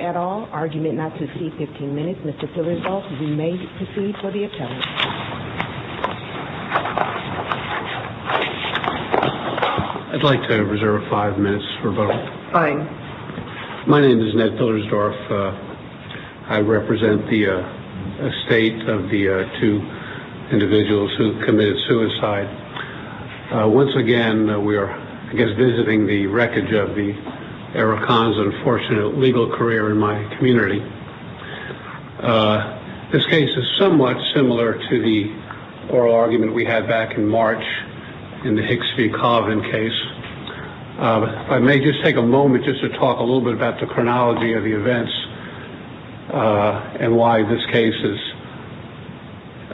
at all, argument not to exceed 15 minutes. Mr. Pillersdorf, you may proceed for the attorney. I'd like to reserve five minutes for vote. Fine. My name is Ned Pillersdorf. I represent the estate of the two individuals who committed suicide. Once again, we are, I guess, visiting the wreckage of the Arakan's unfortunate legal career in my community. This case is somewhat similar to the oral argument we had back in March in the Hicks v. Coven case. I may just take a moment just to talk a little bit about the chronology of the events and why this case is,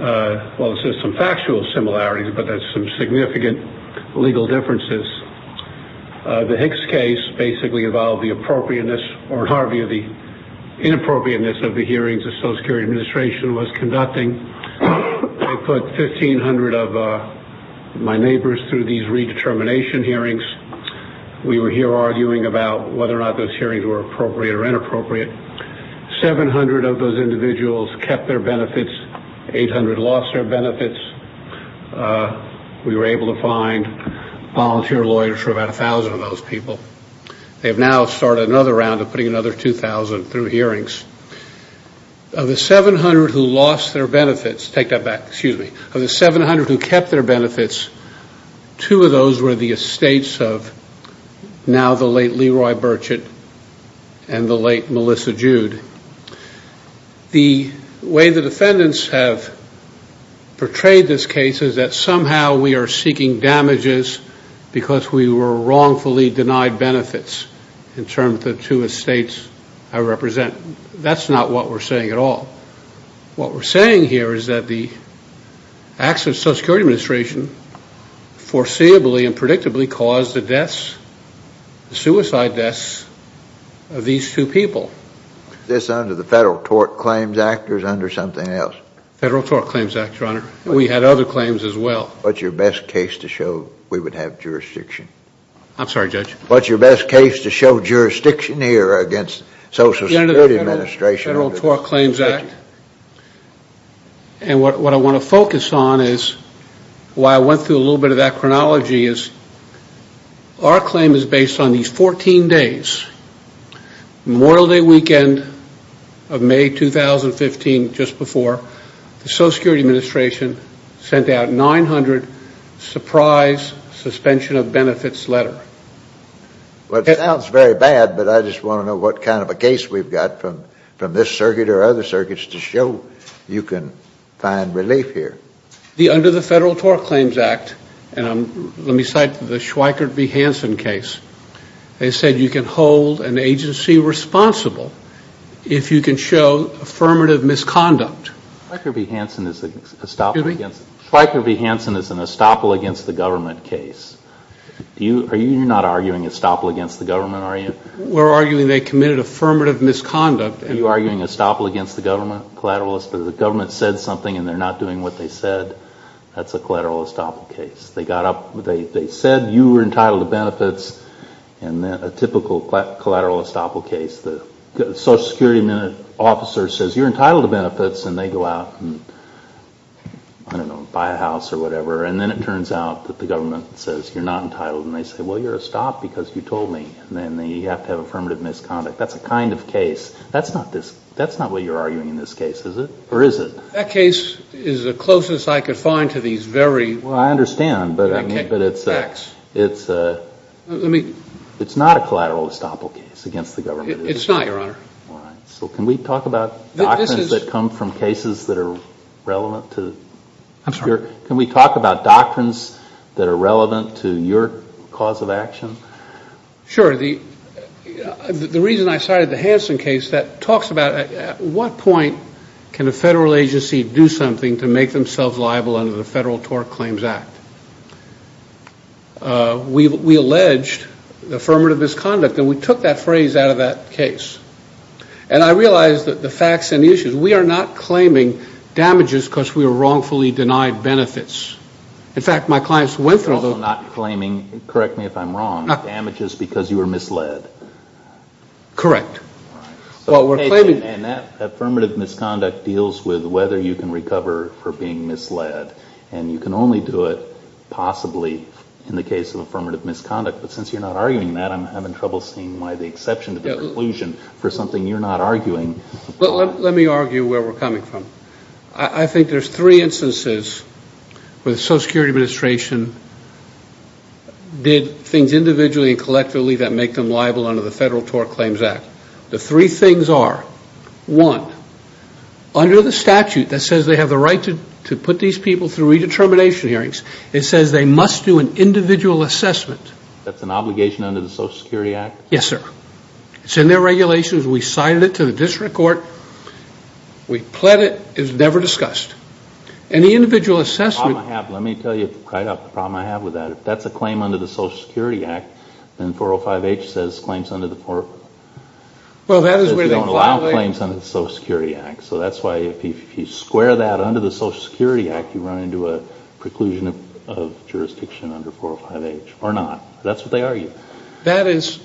well, it's just some factual similarities, but there's some significant legal differences. The Hicks case basically involved the appropriateness or, in our view, the inappropriateness of the hearings the Social Security Administration was conducting. They put 1,500 of my neighbors through these redetermination hearings. We were here arguing about whether or not those hearings were appropriate or inappropriate. 700 of those individuals kept their benefits. 800 lost their benefits. We were able to find volunteer lawyers for about 1,000 of those people. They have now started another round of putting another 2,000 through hearings. Of the 700 who lost their benefits, take that back, excuse me, of the 700 who kept their benefits, two of those were the estates of now the late Leroy Burchett and the late Melissa Jude. The way the defendants have portrayed this case is that somehow we are seeking damages because we were wrongfully denied benefits in terms of the two estates I represent. That's not what we're saying at all. What we're saying here is that the acts of Social Security Administration foreseeably and predictably caused the deaths, the suicide deaths of these two people. Is this under the Federal Tort Claims Act or is it under something else? Federal Tort Claims Act, Your Honor. We had other claims as well. What's your best case to show we would have jurisdiction? I'm sorry, Judge. What's your best case to show jurisdiction here against Social Security Administration? Under the Federal Tort Claims Act, and what I want to focus on is why I went through a little bit of that chronology is our claim is based on these 14 days. Memorial Day weekend of May 2015, just before, the Social Security Administration sent out 900 surprise suspension of benefits letter. Well, it sounds very bad, but I just want to know what kind of a case we've got from this circuit or other circuits to show you can find relief here. Under the Federal Tort Claims Act, and let me cite the Schweikert v. Hansen case, they committed affirmative misconduct. Schweikert v. Hansen is an estoppel against the government case. You're not arguing estoppel against the government, are you? We're arguing they committed affirmative misconduct. Are you arguing estoppel against the government, collateralist? If the government said something and they're not doing what they said, that's a collateral estoppel case. They said you were entitled to benefits, and a typical collateral estoppel case, the Social Security officer says you're entitled to benefits, and they go out and, I don't know, buy a house or whatever, and then it turns out that the government says you're not entitled, and they say, well, you're estopped because you told me, and then you have to have affirmative misconduct. That's a kind of case. That's not what you're arguing in this case, is it? Or is it? That case is the closest I could find to these very Well, I understand, but it's not a collateral estoppel case against the government. It's not, Your Honor. All right. So can we talk about doctrines that come from cases that are relevant to I'm sorry. Can we talk about doctrines that are relevant to your cause of action? Sure. The reason I cited the Hansen case, that talks about at what point can a federal agency do something to make themselves liable under the Federal Tort Claims Act? We alleged affirmative misconduct, and we took that phrase out of that case. And I realize that the facts and the issues, we are not claiming damages because we were wrongfully denied benefits. In fact, my clients went through those You're also not claiming, correct me if I'm wrong, damages because you were misled. Correct. And that affirmative misconduct deals with whether you can recover for being misled. And you can only do it possibly in the case of affirmative misconduct. But since you're not arguing that, I'm having trouble seeing why the exception to the conclusion for something you're not arguing Let me argue where we're coming from. I think there's three instances where the Social Security Administration did things individually and collectively that make them liable under the Federal Tort Claims Act. The three things are, one, under the statute that says they have the right to put these people through redetermination hearings, it says they must do an individual assessment. That's an obligation under the Social Security Act? Yes, sir. It's in their regulations. We cited it to the district court. We pled it. It was never discussed. And the individual assessment Let me tell you right off the problem I have with that. That's a claim under the Social Security Act. And 405H says claims under the Social Security Act. So that's why if you square that under the Social Security Act, you run into a preclusion of jurisdiction under 405H. Or not. That's what they argue. That is,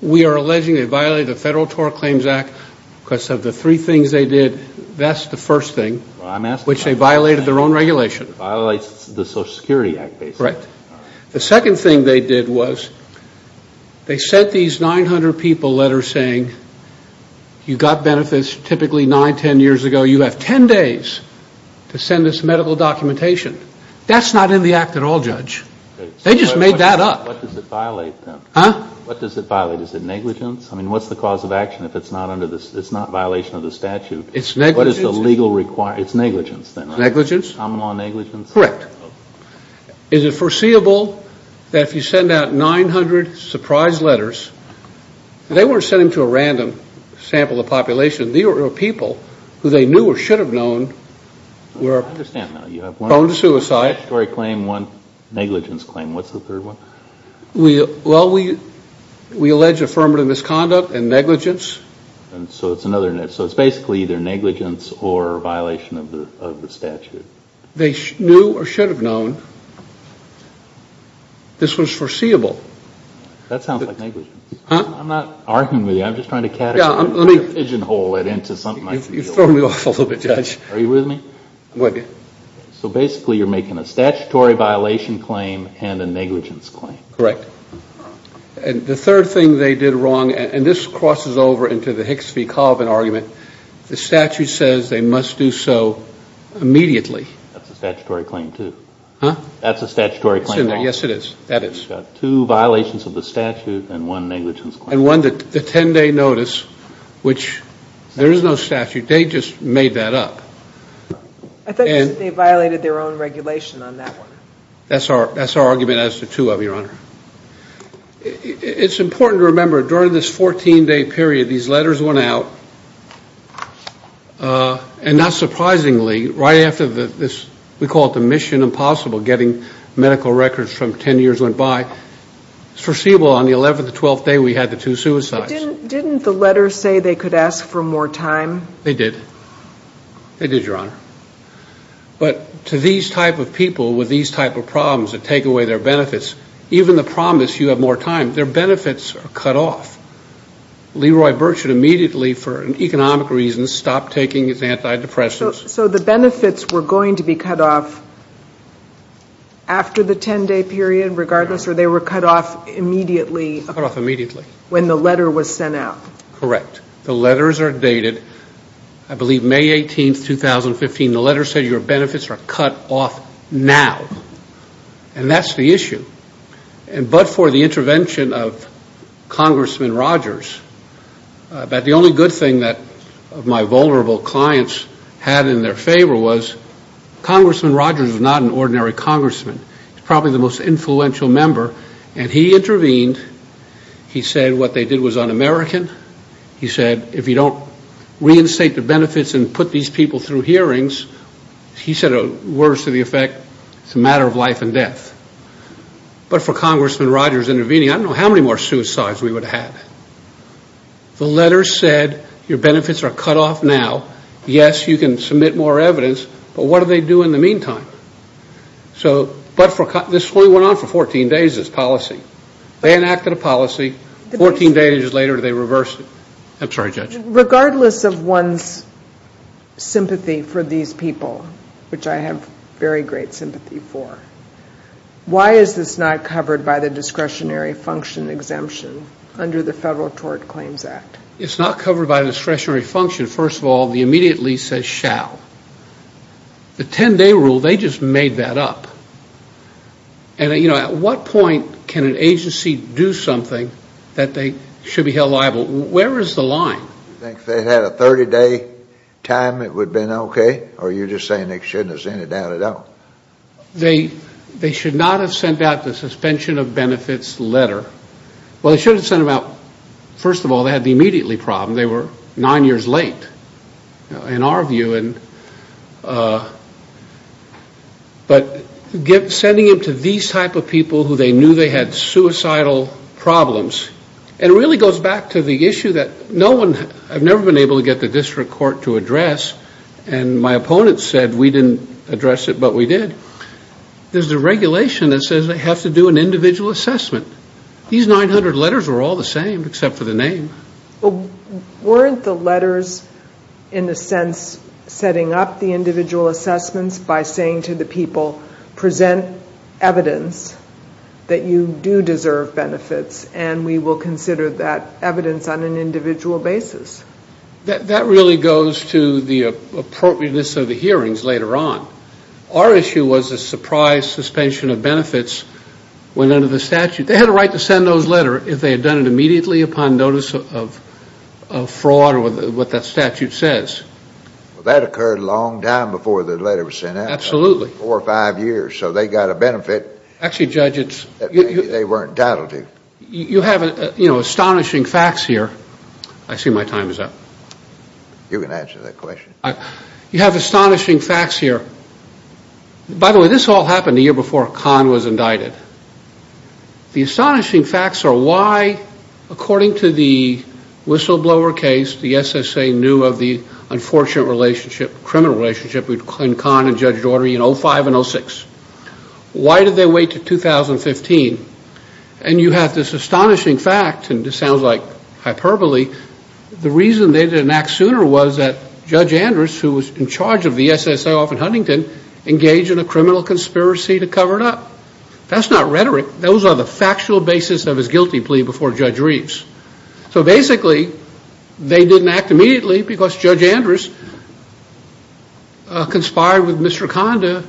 we are alleging they violated the Federal Tort Claims Act because of the three things they did. That's the first thing, which they violated their own regulation. It violates the Social Security Act, basically. Correct. The second thing they did was they sent these 900 people letters saying you got benefits typically nine, ten years ago. You have ten days to send us medical documentation. That's not in the Act at all, Judge. They just made that up. What does it violate, then? Huh? What does it violate? Is it negligence? I mean, what's the cause of action if it's not violation of the statute? It's negligence. What is the legal requirement? It's negligence, then, right? Negligence. Common law negligence? Correct. Is it foreseeable that if you send out 900 surprise letters, they weren't sending them to a random sample of population. These were people who they knew or should have known were prone to suicide. I understand now. You have one statutory claim, one negligence claim. What's the third one? Well, we allege affirmative misconduct and negligence. So it's basically either negligence or violation of the statute. They knew or should have known this was foreseeable. That sounds like negligence. Huh? I'm not arguing with you. I'm just trying to categorize. Yeah, let me. I'm trying to pigeonhole it into something. You've thrown me off a little bit, Judge. Are you with me? What? So basically, you're making a statutory violation claim and a negligence claim. Correct. And the third thing they did wrong, and this crosses over into the Hicks v. Colvin argument, the statute says they must do so immediately. That's a statutory claim, too. Huh? That's a statutory claim. Yes, it is. That is. Two violations of the statute and one negligence claim. And one, the 10-day notice, which there is no statute. They just made that up. I thought you said they violated their own regulation on that one. That's our argument as to two of them, Your Honor. It's important to remember, during this 14-day period, these letters went out, and not surprisingly, right after this, we call it the mission impossible, getting medical records from 10 years went by, it's foreseeable on the 11th or 12th day we had the two suicides. Didn't the letters say they could ask for more time? They did. They did, Your Honor. But to these type of people with these type of problems that take away their benefits, even the promise you have more time, their benefits are cut off. Leroy Birch had immediately, for economic reasons, stopped taking his antidepressants. So the benefits were going to be cut off after the 10-day period, regardless, or they were cut off immediately? Cut off immediately. When the letter was sent out. Correct. The letters are dated, I believe, May 18, 2015. The letters say your benefits are cut off now, and that's the issue. But for the intervention of Congressman Rogers, the only good thing that my vulnerable clients had in their favor was, Congressman Rogers is not an ordinary congressman. He's probably the most influential member, and he intervened. He said what they did was un-American. He said if you don't reinstate the benefits and put these people through hearings, he said words to the effect, it's a matter of life and death. But for Congressman Rogers intervening, I don't know how many more suicides we would have had. The letters said your benefits are cut off now. Yes, you can submit more evidence, but what do they do in the meantime? So this only went on for 14 days, this policy. They enacted a policy. 14 days later they reversed it. I'm sorry, Judge. Regardless of one's sympathy for these people, which I have very great sympathy for, why is this not covered by the discretionary function exemption under the Federal Tort Claims Act? It's not covered by discretionary function. First of all, the immediate lease says shall. The 10-day rule, they just made that up. At what point can an agency do something that they should be held liable? Where is the line? Do you think if they had a 30-day time it would have been okay? Or are you just saying they shouldn't have sent it down at all? They should not have sent out the suspension of benefits letter. Well, they should have sent them out. First of all, they had the immediately problem. They were nine years late in our view. But sending it to these type of people who they knew they had suicidal problems, and it really goes back to the issue that no one, I've never been able to get the district court to address, and my opponent said we didn't address it, but we did. There's a regulation that says they have to do an individual assessment. These 900 letters were all the same except for the name. Weren't the letters, in a sense, setting up the individual assessments by saying to the people present evidence that you do deserve benefits, and we will consider that evidence on an individual basis? That really goes to the appropriateness of the hearings later on. Our issue was a surprise suspension of benefits when under the statute. They had a right to send those letters if they had done it immediately upon notice of fraud or what that statute says. Well, that occurred a long time before the letter was sent out. Absolutely. Four or five years. So they got a benefit that maybe they weren't entitled to. You have astonishing facts here. I see my time is up. You can answer that question. You have astonishing facts here. By the way, this all happened the year before Kahn was indicted. The astonishing facts are why, according to the whistleblower case, the SSA knew of the unfortunate relationship, criminal relationship, between Kahn and Judge Daugherty in 2005 and 2006. Why did they wait to 2015? And you have this astonishing fact, and this sounds like hyperbole, the reason they didn't act sooner was that Judge Andrews, who was in charge of the SSA off in Huntington, engaged in a criminal conspiracy to cover it up. That's not rhetoric. Those are the factual basis of his guilty plea before Judge Reeves. So basically they didn't act immediately because Judge Andrews conspired with Mr. Kahn to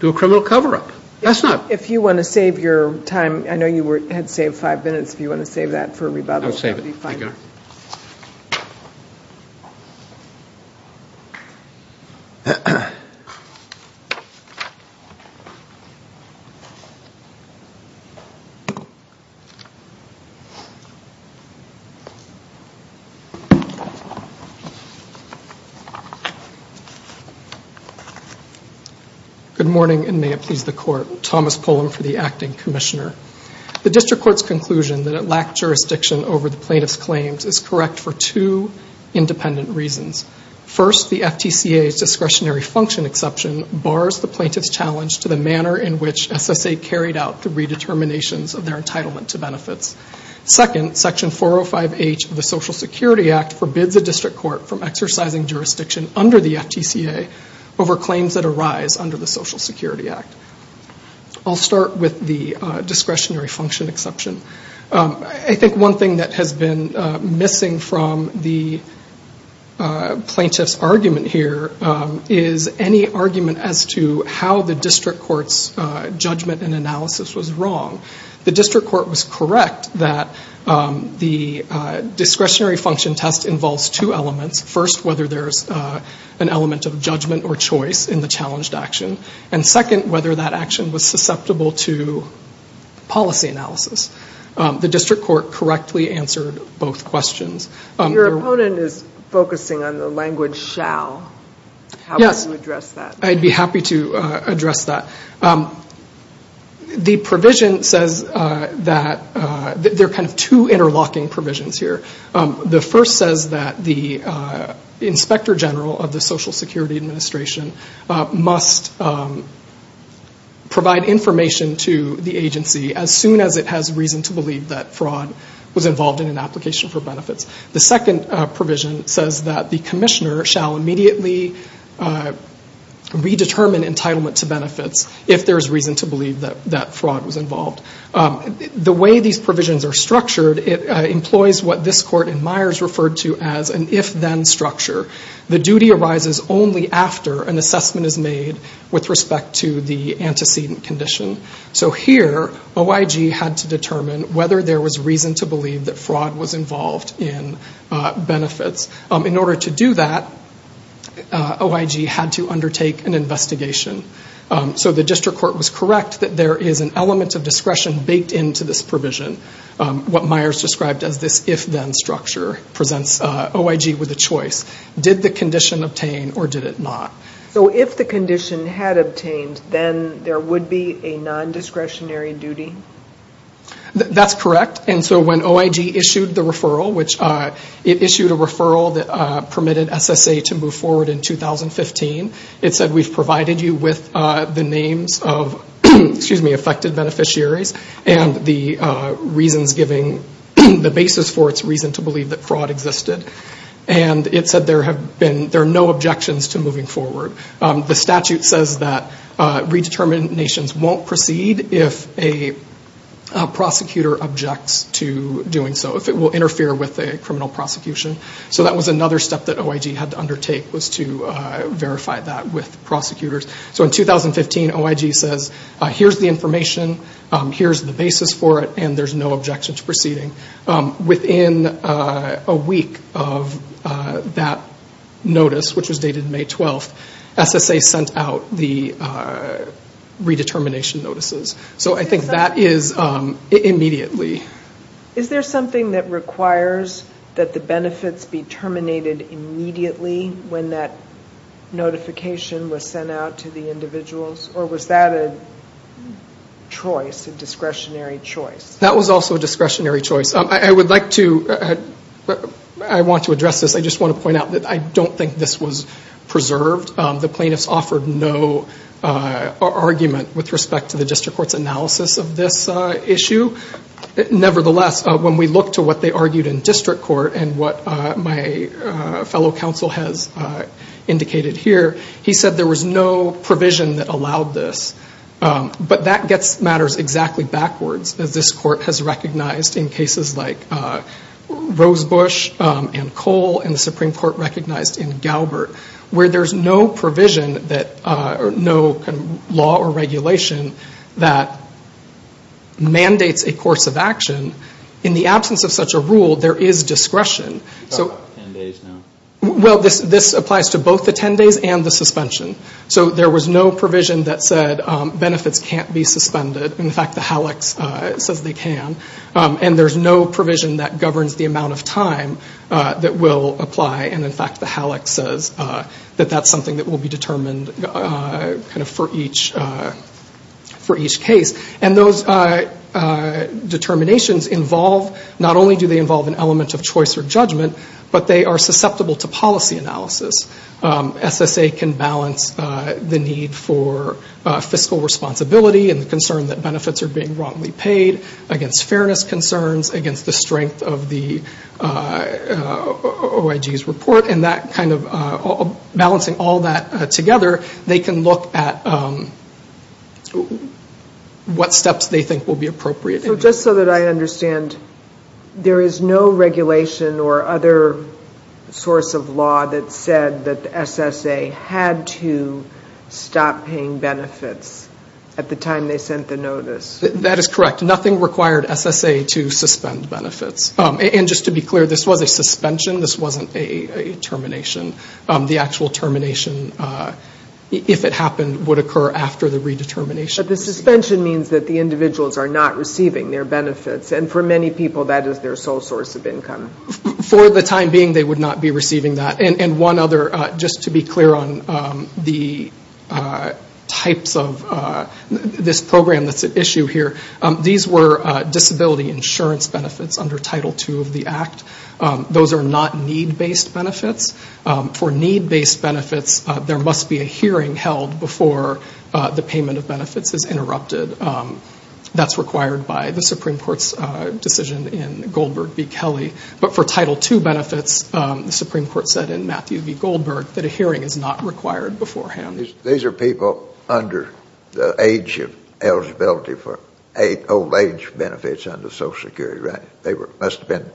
do a criminal cover-up. If you want to save your time, I know you had saved five minutes. If you want to save that for rebuttal, that would be fine. Good morning, and may it please the Court. Thomas Pullum for the Acting Commissioner. The District Court's conclusion that it lacked jurisdiction over the plaintiff's claims is correct for two independent reasons. First, the FTCA's discretionary function exception bars the plaintiff's challenge to the manner in which SSA carried out the redeterminations of their entitlement to benefits. Second, Section 405H of the Social Security Act forbids the District Court from exercising jurisdiction under the FTCA over claims that arise under the Social Security Act. I'll start with the discretionary function exception. I think one thing that has been missing from the plaintiff's argument here is any argument as to how the District Court's judgment and analysis was wrong. The District Court was correct that the discretionary function test involves two elements. First, whether there's an element of judgment or choice in the challenged action. And second, whether that action was susceptible to policy analysis. The District Court correctly answered both questions. Your opponent is focusing on the language shall. Yes. How would you address that? I'd be happy to address that. The provision says that there are kind of two interlocking provisions here. The first says that the Inspector General of the Social Security Administration must provide information to the agency as soon as it has reason to believe that fraud was involved in an application for benefits. The second provision says that the commissioner shall immediately redetermine entitlement to benefits if there's reason to believe that fraud was involved. The way these provisions are structured, it employs what this court in Myers referred to as an if-then structure. The duty arises only after an assessment is made with respect to the antecedent condition. So here, OIG had to determine whether there was reason to believe that fraud was involved in benefits. In order to do that, OIG had to undertake an investigation. So the District Court was correct that there is an element of discretion baked into this provision. What Myers described as this if-then structure presents OIG with a choice. Did the condition obtain or did it not? So if the condition had obtained, then there would be a non-discretionary duty? That's correct. And so when OIG issued the referral, which it issued a referral that permitted SSA to move forward in 2015, it said we've provided you with the names of affected beneficiaries and the reasons giving the basis for its reason to believe that fraud existed. And it said there are no objections to moving forward. The statute says that redeterminations won't proceed if a prosecutor objects to doing so, if it will interfere with a criminal prosecution. So that was another step that OIG had to undertake was to verify that with prosecutors. So in 2015, OIG says here's the information, here's the basis for it, and there's no objection to proceeding. Within a week of that notice, which was dated May 12th, SSA sent out the redetermination notices. So I think that is immediately. Is there something that requires that the benefits be terminated immediately when that notification was sent out to the individuals? Or was that a choice, a discretionary choice? That was also a discretionary choice. I would like to address this. I just want to point out that I don't think this was preserved. The plaintiffs offered no argument with respect to the district court's analysis of this issue. Nevertheless, when we look to what they argued in district court and what my fellow counsel has indicated here, he said there was no provision that allowed this. But that gets matters exactly backwards, as this court has recognized in cases like Rosebush and Cole and the Supreme Court recognized in Galbert, where there's no provision, no law or regulation that mandates a course of action. In the absence of such a rule, there is discretion. You're talking about the 10 days now. Well, this applies to both the 10 days and the suspension. So there was no provision that said benefits can't be suspended. In fact, the HALEX says they can. And there's no provision that governs the amount of time that will apply. And in fact, the HALEX says that that's something that will be determined kind of for each case. And those determinations involve not only do they involve an element of choice or judgment, but they are susceptible to policy analysis. SSA can balance the need for fiscal responsibility and the concern that benefits are being wrongly paid, against fairness concerns, against the strength of the OIG's report. And that kind of balancing all that together, they can look at what steps they think will be appropriate. So just so that I understand, there is no regulation or other source of law that said that SSA had to stop paying benefits at the time they sent the notice? That is correct. Nothing required SSA to suspend benefits. And just to be clear, this was a suspension. This wasn't a termination. The actual termination, if it happened, would occur after the redetermination. But the suspension means that the individuals are not receiving their benefits. And for many people, that is their sole source of income. For the time being, they would not be receiving that. And one other, just to be clear on the types of this program that's at issue here, these were disability insurance benefits under Title II of the Act. Those are not need-based benefits. For need-based benefits, there must be a hearing held before the payment of benefits is interrupted. That's required by the Supreme Court's decision in Goldberg v. Kelly. But for Title II benefits, the Supreme Court said in Matthew v. Goldberg that a hearing is not required beforehand. These are people under the age of eligibility for old age benefits under Social Security, right? They must have been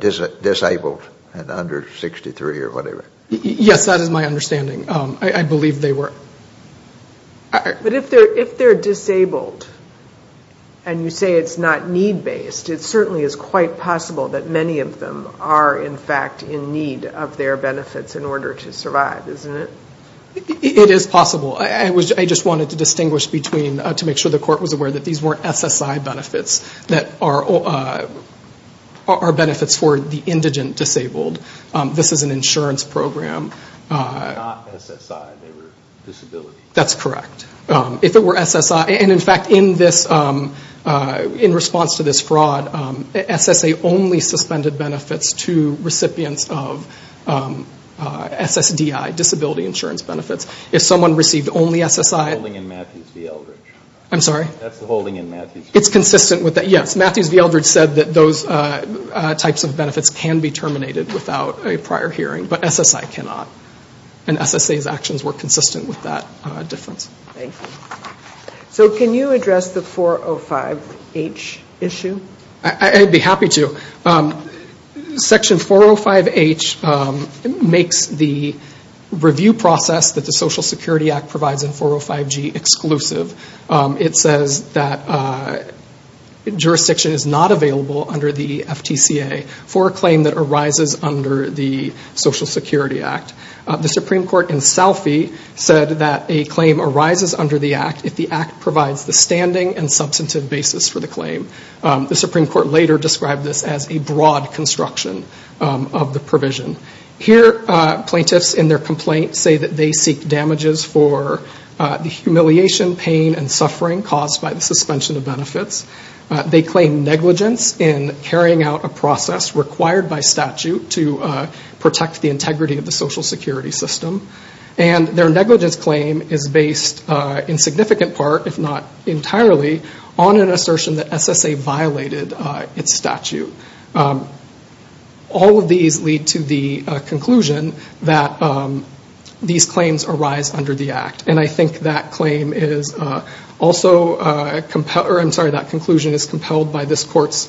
disabled and under 63 or whatever. Yes, that is my understanding. I believe they were. But if they're disabled and you say it's not need-based, it certainly is quite possible that many of them are, in fact, in need of their benefits in order to survive, isn't it? It is possible. I just wanted to distinguish between, to make sure the court was aware that these weren't SSI benefits, that are benefits for the indigent disabled. This is an insurance program. They were not SSI, they were disability. That's correct. If it were SSI, and in fact, in response to this fraud, SSA only suspended benefits to recipients of SSDI, disability insurance benefits. If someone received only SSI. That's the holding in Matthews v. Eldridge. I'm sorry? That's the holding in Matthews v. Eldridge. It's consistent with that, yes. Matthews v. Eldridge said that those types of benefits can be terminated without a prior hearing, but SSI cannot, and SSA's actions were consistent with that difference. Thank you. So can you address the 405H issue? I'd be happy to. Section 405H makes the review process that the Social Security Act provides in 405G exclusive. It says that jurisdiction is not available under the FTCA for a claim that arises under the Social Security Act. The Supreme Court in Salfie said that a claim arises under the Act if the Act provides the standing and substantive basis for the claim. The Supreme Court later described this as a broad construction of the provision. Here, plaintiffs in their complaint say that they seek damages for the humiliation, pain, and suffering caused by the suspension of benefits. They claim negligence in carrying out a process required by statute to protect the integrity of the Social Security system. And their negligence claim is based in significant part, if not entirely, on an assertion that SSA violated its statute. All of these lead to the conclusion that these claims arise under the Act. And I think that claim is also compelled, or I'm sorry, that conclusion is compelled by this court's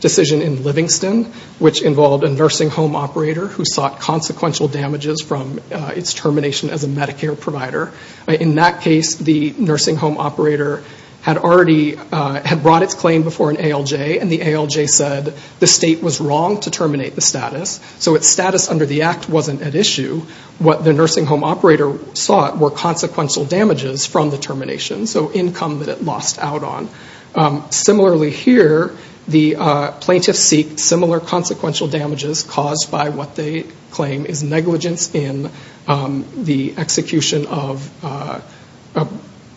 decision in Livingston, which involved a nursing home operator who sought consequential damages from its termination as a Medicare provider. In that case, the nursing home operator had already, had brought its claim before an ALJ, and the ALJ said the state was wrong to terminate the status, so its status under the Act wasn't at issue. What the nursing home operator sought were consequential damages from the termination, so income that it lost out on. Similarly here, the plaintiffs seek similar consequential damages caused by what they claim is negligence in the execution of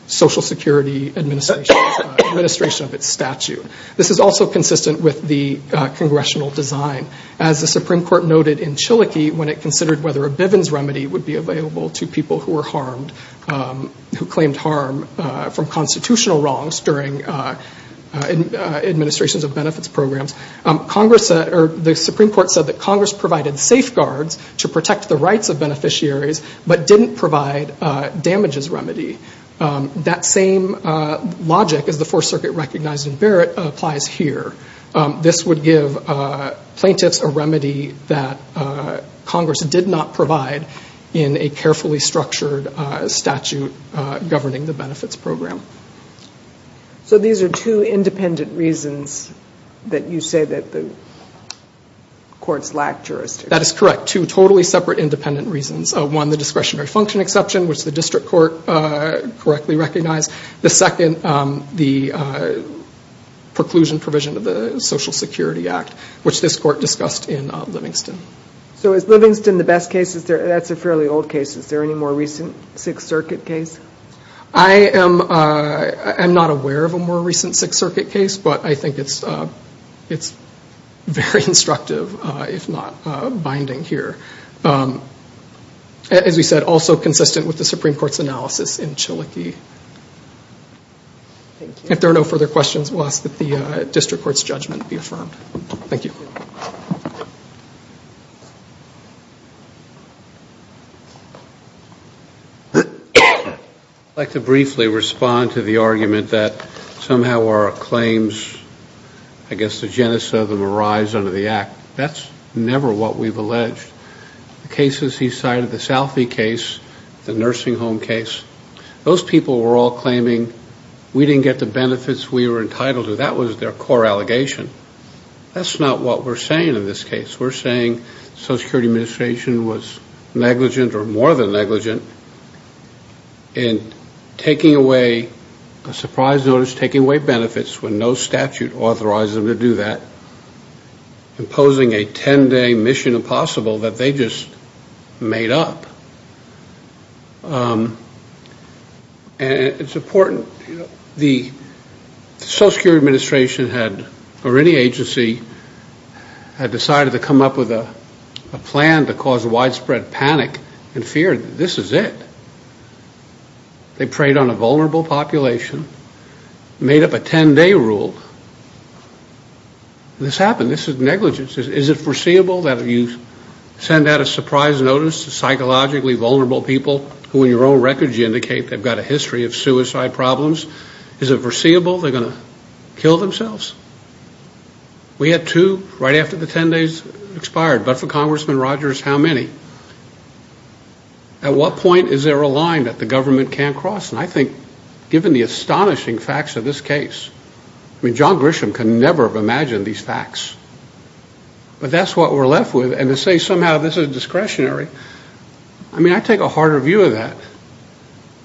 Social Security administration of its statute. This is also consistent with the congressional design. As the Supreme Court noted in Chilokee when it considered whether a Bivens remedy would be available to people who were harmed, who claimed harm from constitutional wrongs during administrations of benefits programs, the Supreme Court said that Congress provided safeguards to protect the rights of beneficiaries, but didn't provide damages remedy. That same logic, as the Fourth Circuit recognized in Barrett, applies here. This would give plaintiffs a remedy that Congress did not provide in a carefully structured statute governing the benefits program. So these are two independent reasons that you say that the courts lack jurisdiction. That is correct. Two totally separate independent reasons. One, the discretionary function exception, which the district court correctly recognized. The second, the preclusion provision of the Social Security Act, which this court discussed in Livingston. So is Livingston the best case? That's a fairly old case. Is there any more recent Sixth Circuit case? I am not aware of a more recent Sixth Circuit case, but I think it's very instructive, if not binding here. As we said, also consistent with the Supreme Court's analysis in Chilokee. If there are no further questions, we'll ask that the district court's judgment be affirmed. Thank you. Thank you. I'd like to briefly respond to the argument that somehow our claims, I guess the genesis of them, arise under the Act. That's never what we've alleged. The cases he cited, the Southie case, the nursing home case, those people were all claiming we didn't get the benefits we were entitled to. That was their core allegation. That's not what we're saying in this case. We're saying the Social Security Administration was negligent or more than negligent in taking away a surprise notice, taking away benefits when no statute authorized them to do that, imposing a 10-day mission impossible that they just made up. And it's important. The Social Security Administration had, or any agency, had decided to come up with a plan to cause widespread panic and fear that this is it. They preyed on a vulnerable population, made up a 10-day rule. This happened. This is negligence. Is it foreseeable that if you send out a surprise notice to psychologically vulnerable people who in your own records you indicate they've got a history of suicide problems, is it foreseeable they're going to kill themselves? We had two right after the 10 days expired. But for Congressman Rogers, how many? At what point is there a line that the government can't cross? And I think given the astonishing facts of this case, I mean, John Grisham could never have imagined these facts. But that's what we're left with. And to say somehow this is discretionary, I mean, I take a harder view of that.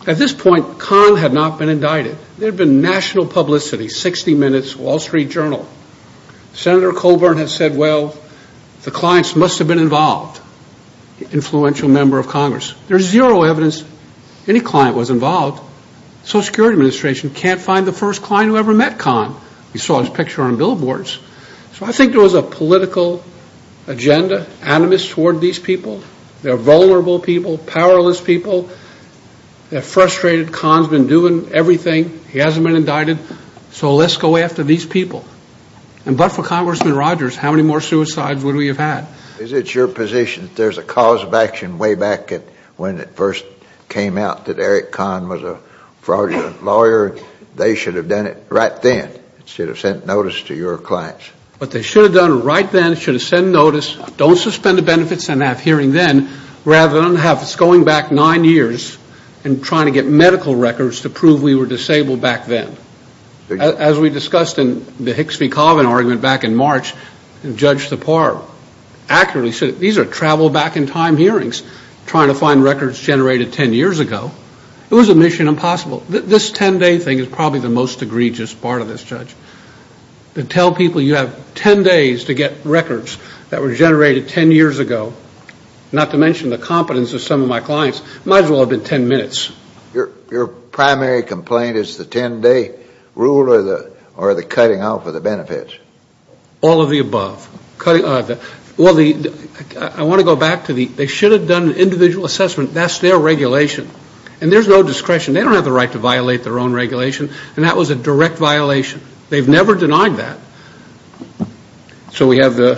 At this point, Khan had not been indicted. There had been national publicity, 60 Minutes, Wall Street Journal. Senator Colburn had said, well, the clients must have been involved, influential member of Congress. There's zero evidence any client was involved. Social Security Administration can't find the first client who ever met Khan. We saw his picture on billboards. So I think there was a political agenda, animus toward these people. They're vulnerable people, powerless people. They're frustrated. Khan's been doing everything. He hasn't been indicted. So let's go after these people. And but for Congressman Rogers, how many more suicides would we have had? Is it your position that there's a cause of action way back when it first came out that Eric Khan was a fraudulent lawyer? They should have done it right then. Should have sent notice to your clients. But they should have done it right then. Should have sent notice. Don't suspend the benefits and have hearing then rather than have us going back nine years and trying to get medical records to prove we were disabled back then. As we discussed in the Hicks v. Coven argument back in March, Judge Separ accurately said, these are travel back in time hearings trying to find records generated ten years ago. It was a mission impossible. This ten-day thing is probably the most egregious part of this, Judge. To tell people you have ten days to get records that were generated ten years ago, not to mention the competence of some of my clients, might as well have been ten minutes. Your primary complaint is the ten-day rule or the cutting out for the benefits? All of the above. Well, I want to go back to the, they should have done an individual assessment. That's their regulation. And there's no discretion. They don't have the right to violate their own regulation. And that was a direct violation. They've never denied that. So we have the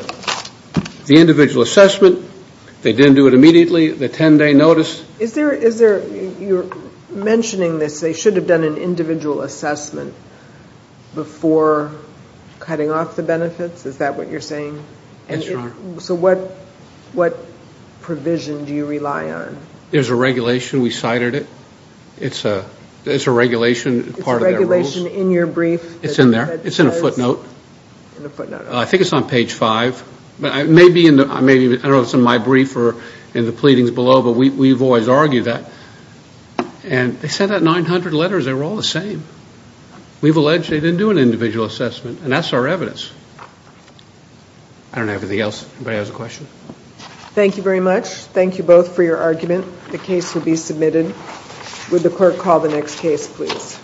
individual assessment. They didn't do it immediately. The ten-day notice. Is there, you're mentioning this, they should have done an individual assessment before cutting off the benefits? Is that what you're saying? Yes, Your Honor. So what provision do you rely on? There's a regulation. We cited it. It's a regulation part of their rules. It's a regulation in your brief? It's in there. It's in a footnote. In a footnote. I think it's on page five. Maybe, I don't know if it's in my brief or in the pleadings below, but we've always argued that. And they sent out 900 letters. They were all the same. We've alleged they didn't do an individual assessment. And that's our evidence. I don't have anything else. Anybody has a question? Thank you very much. Thank you both for your argument. The case will be submitted. Would the court call the next case, please?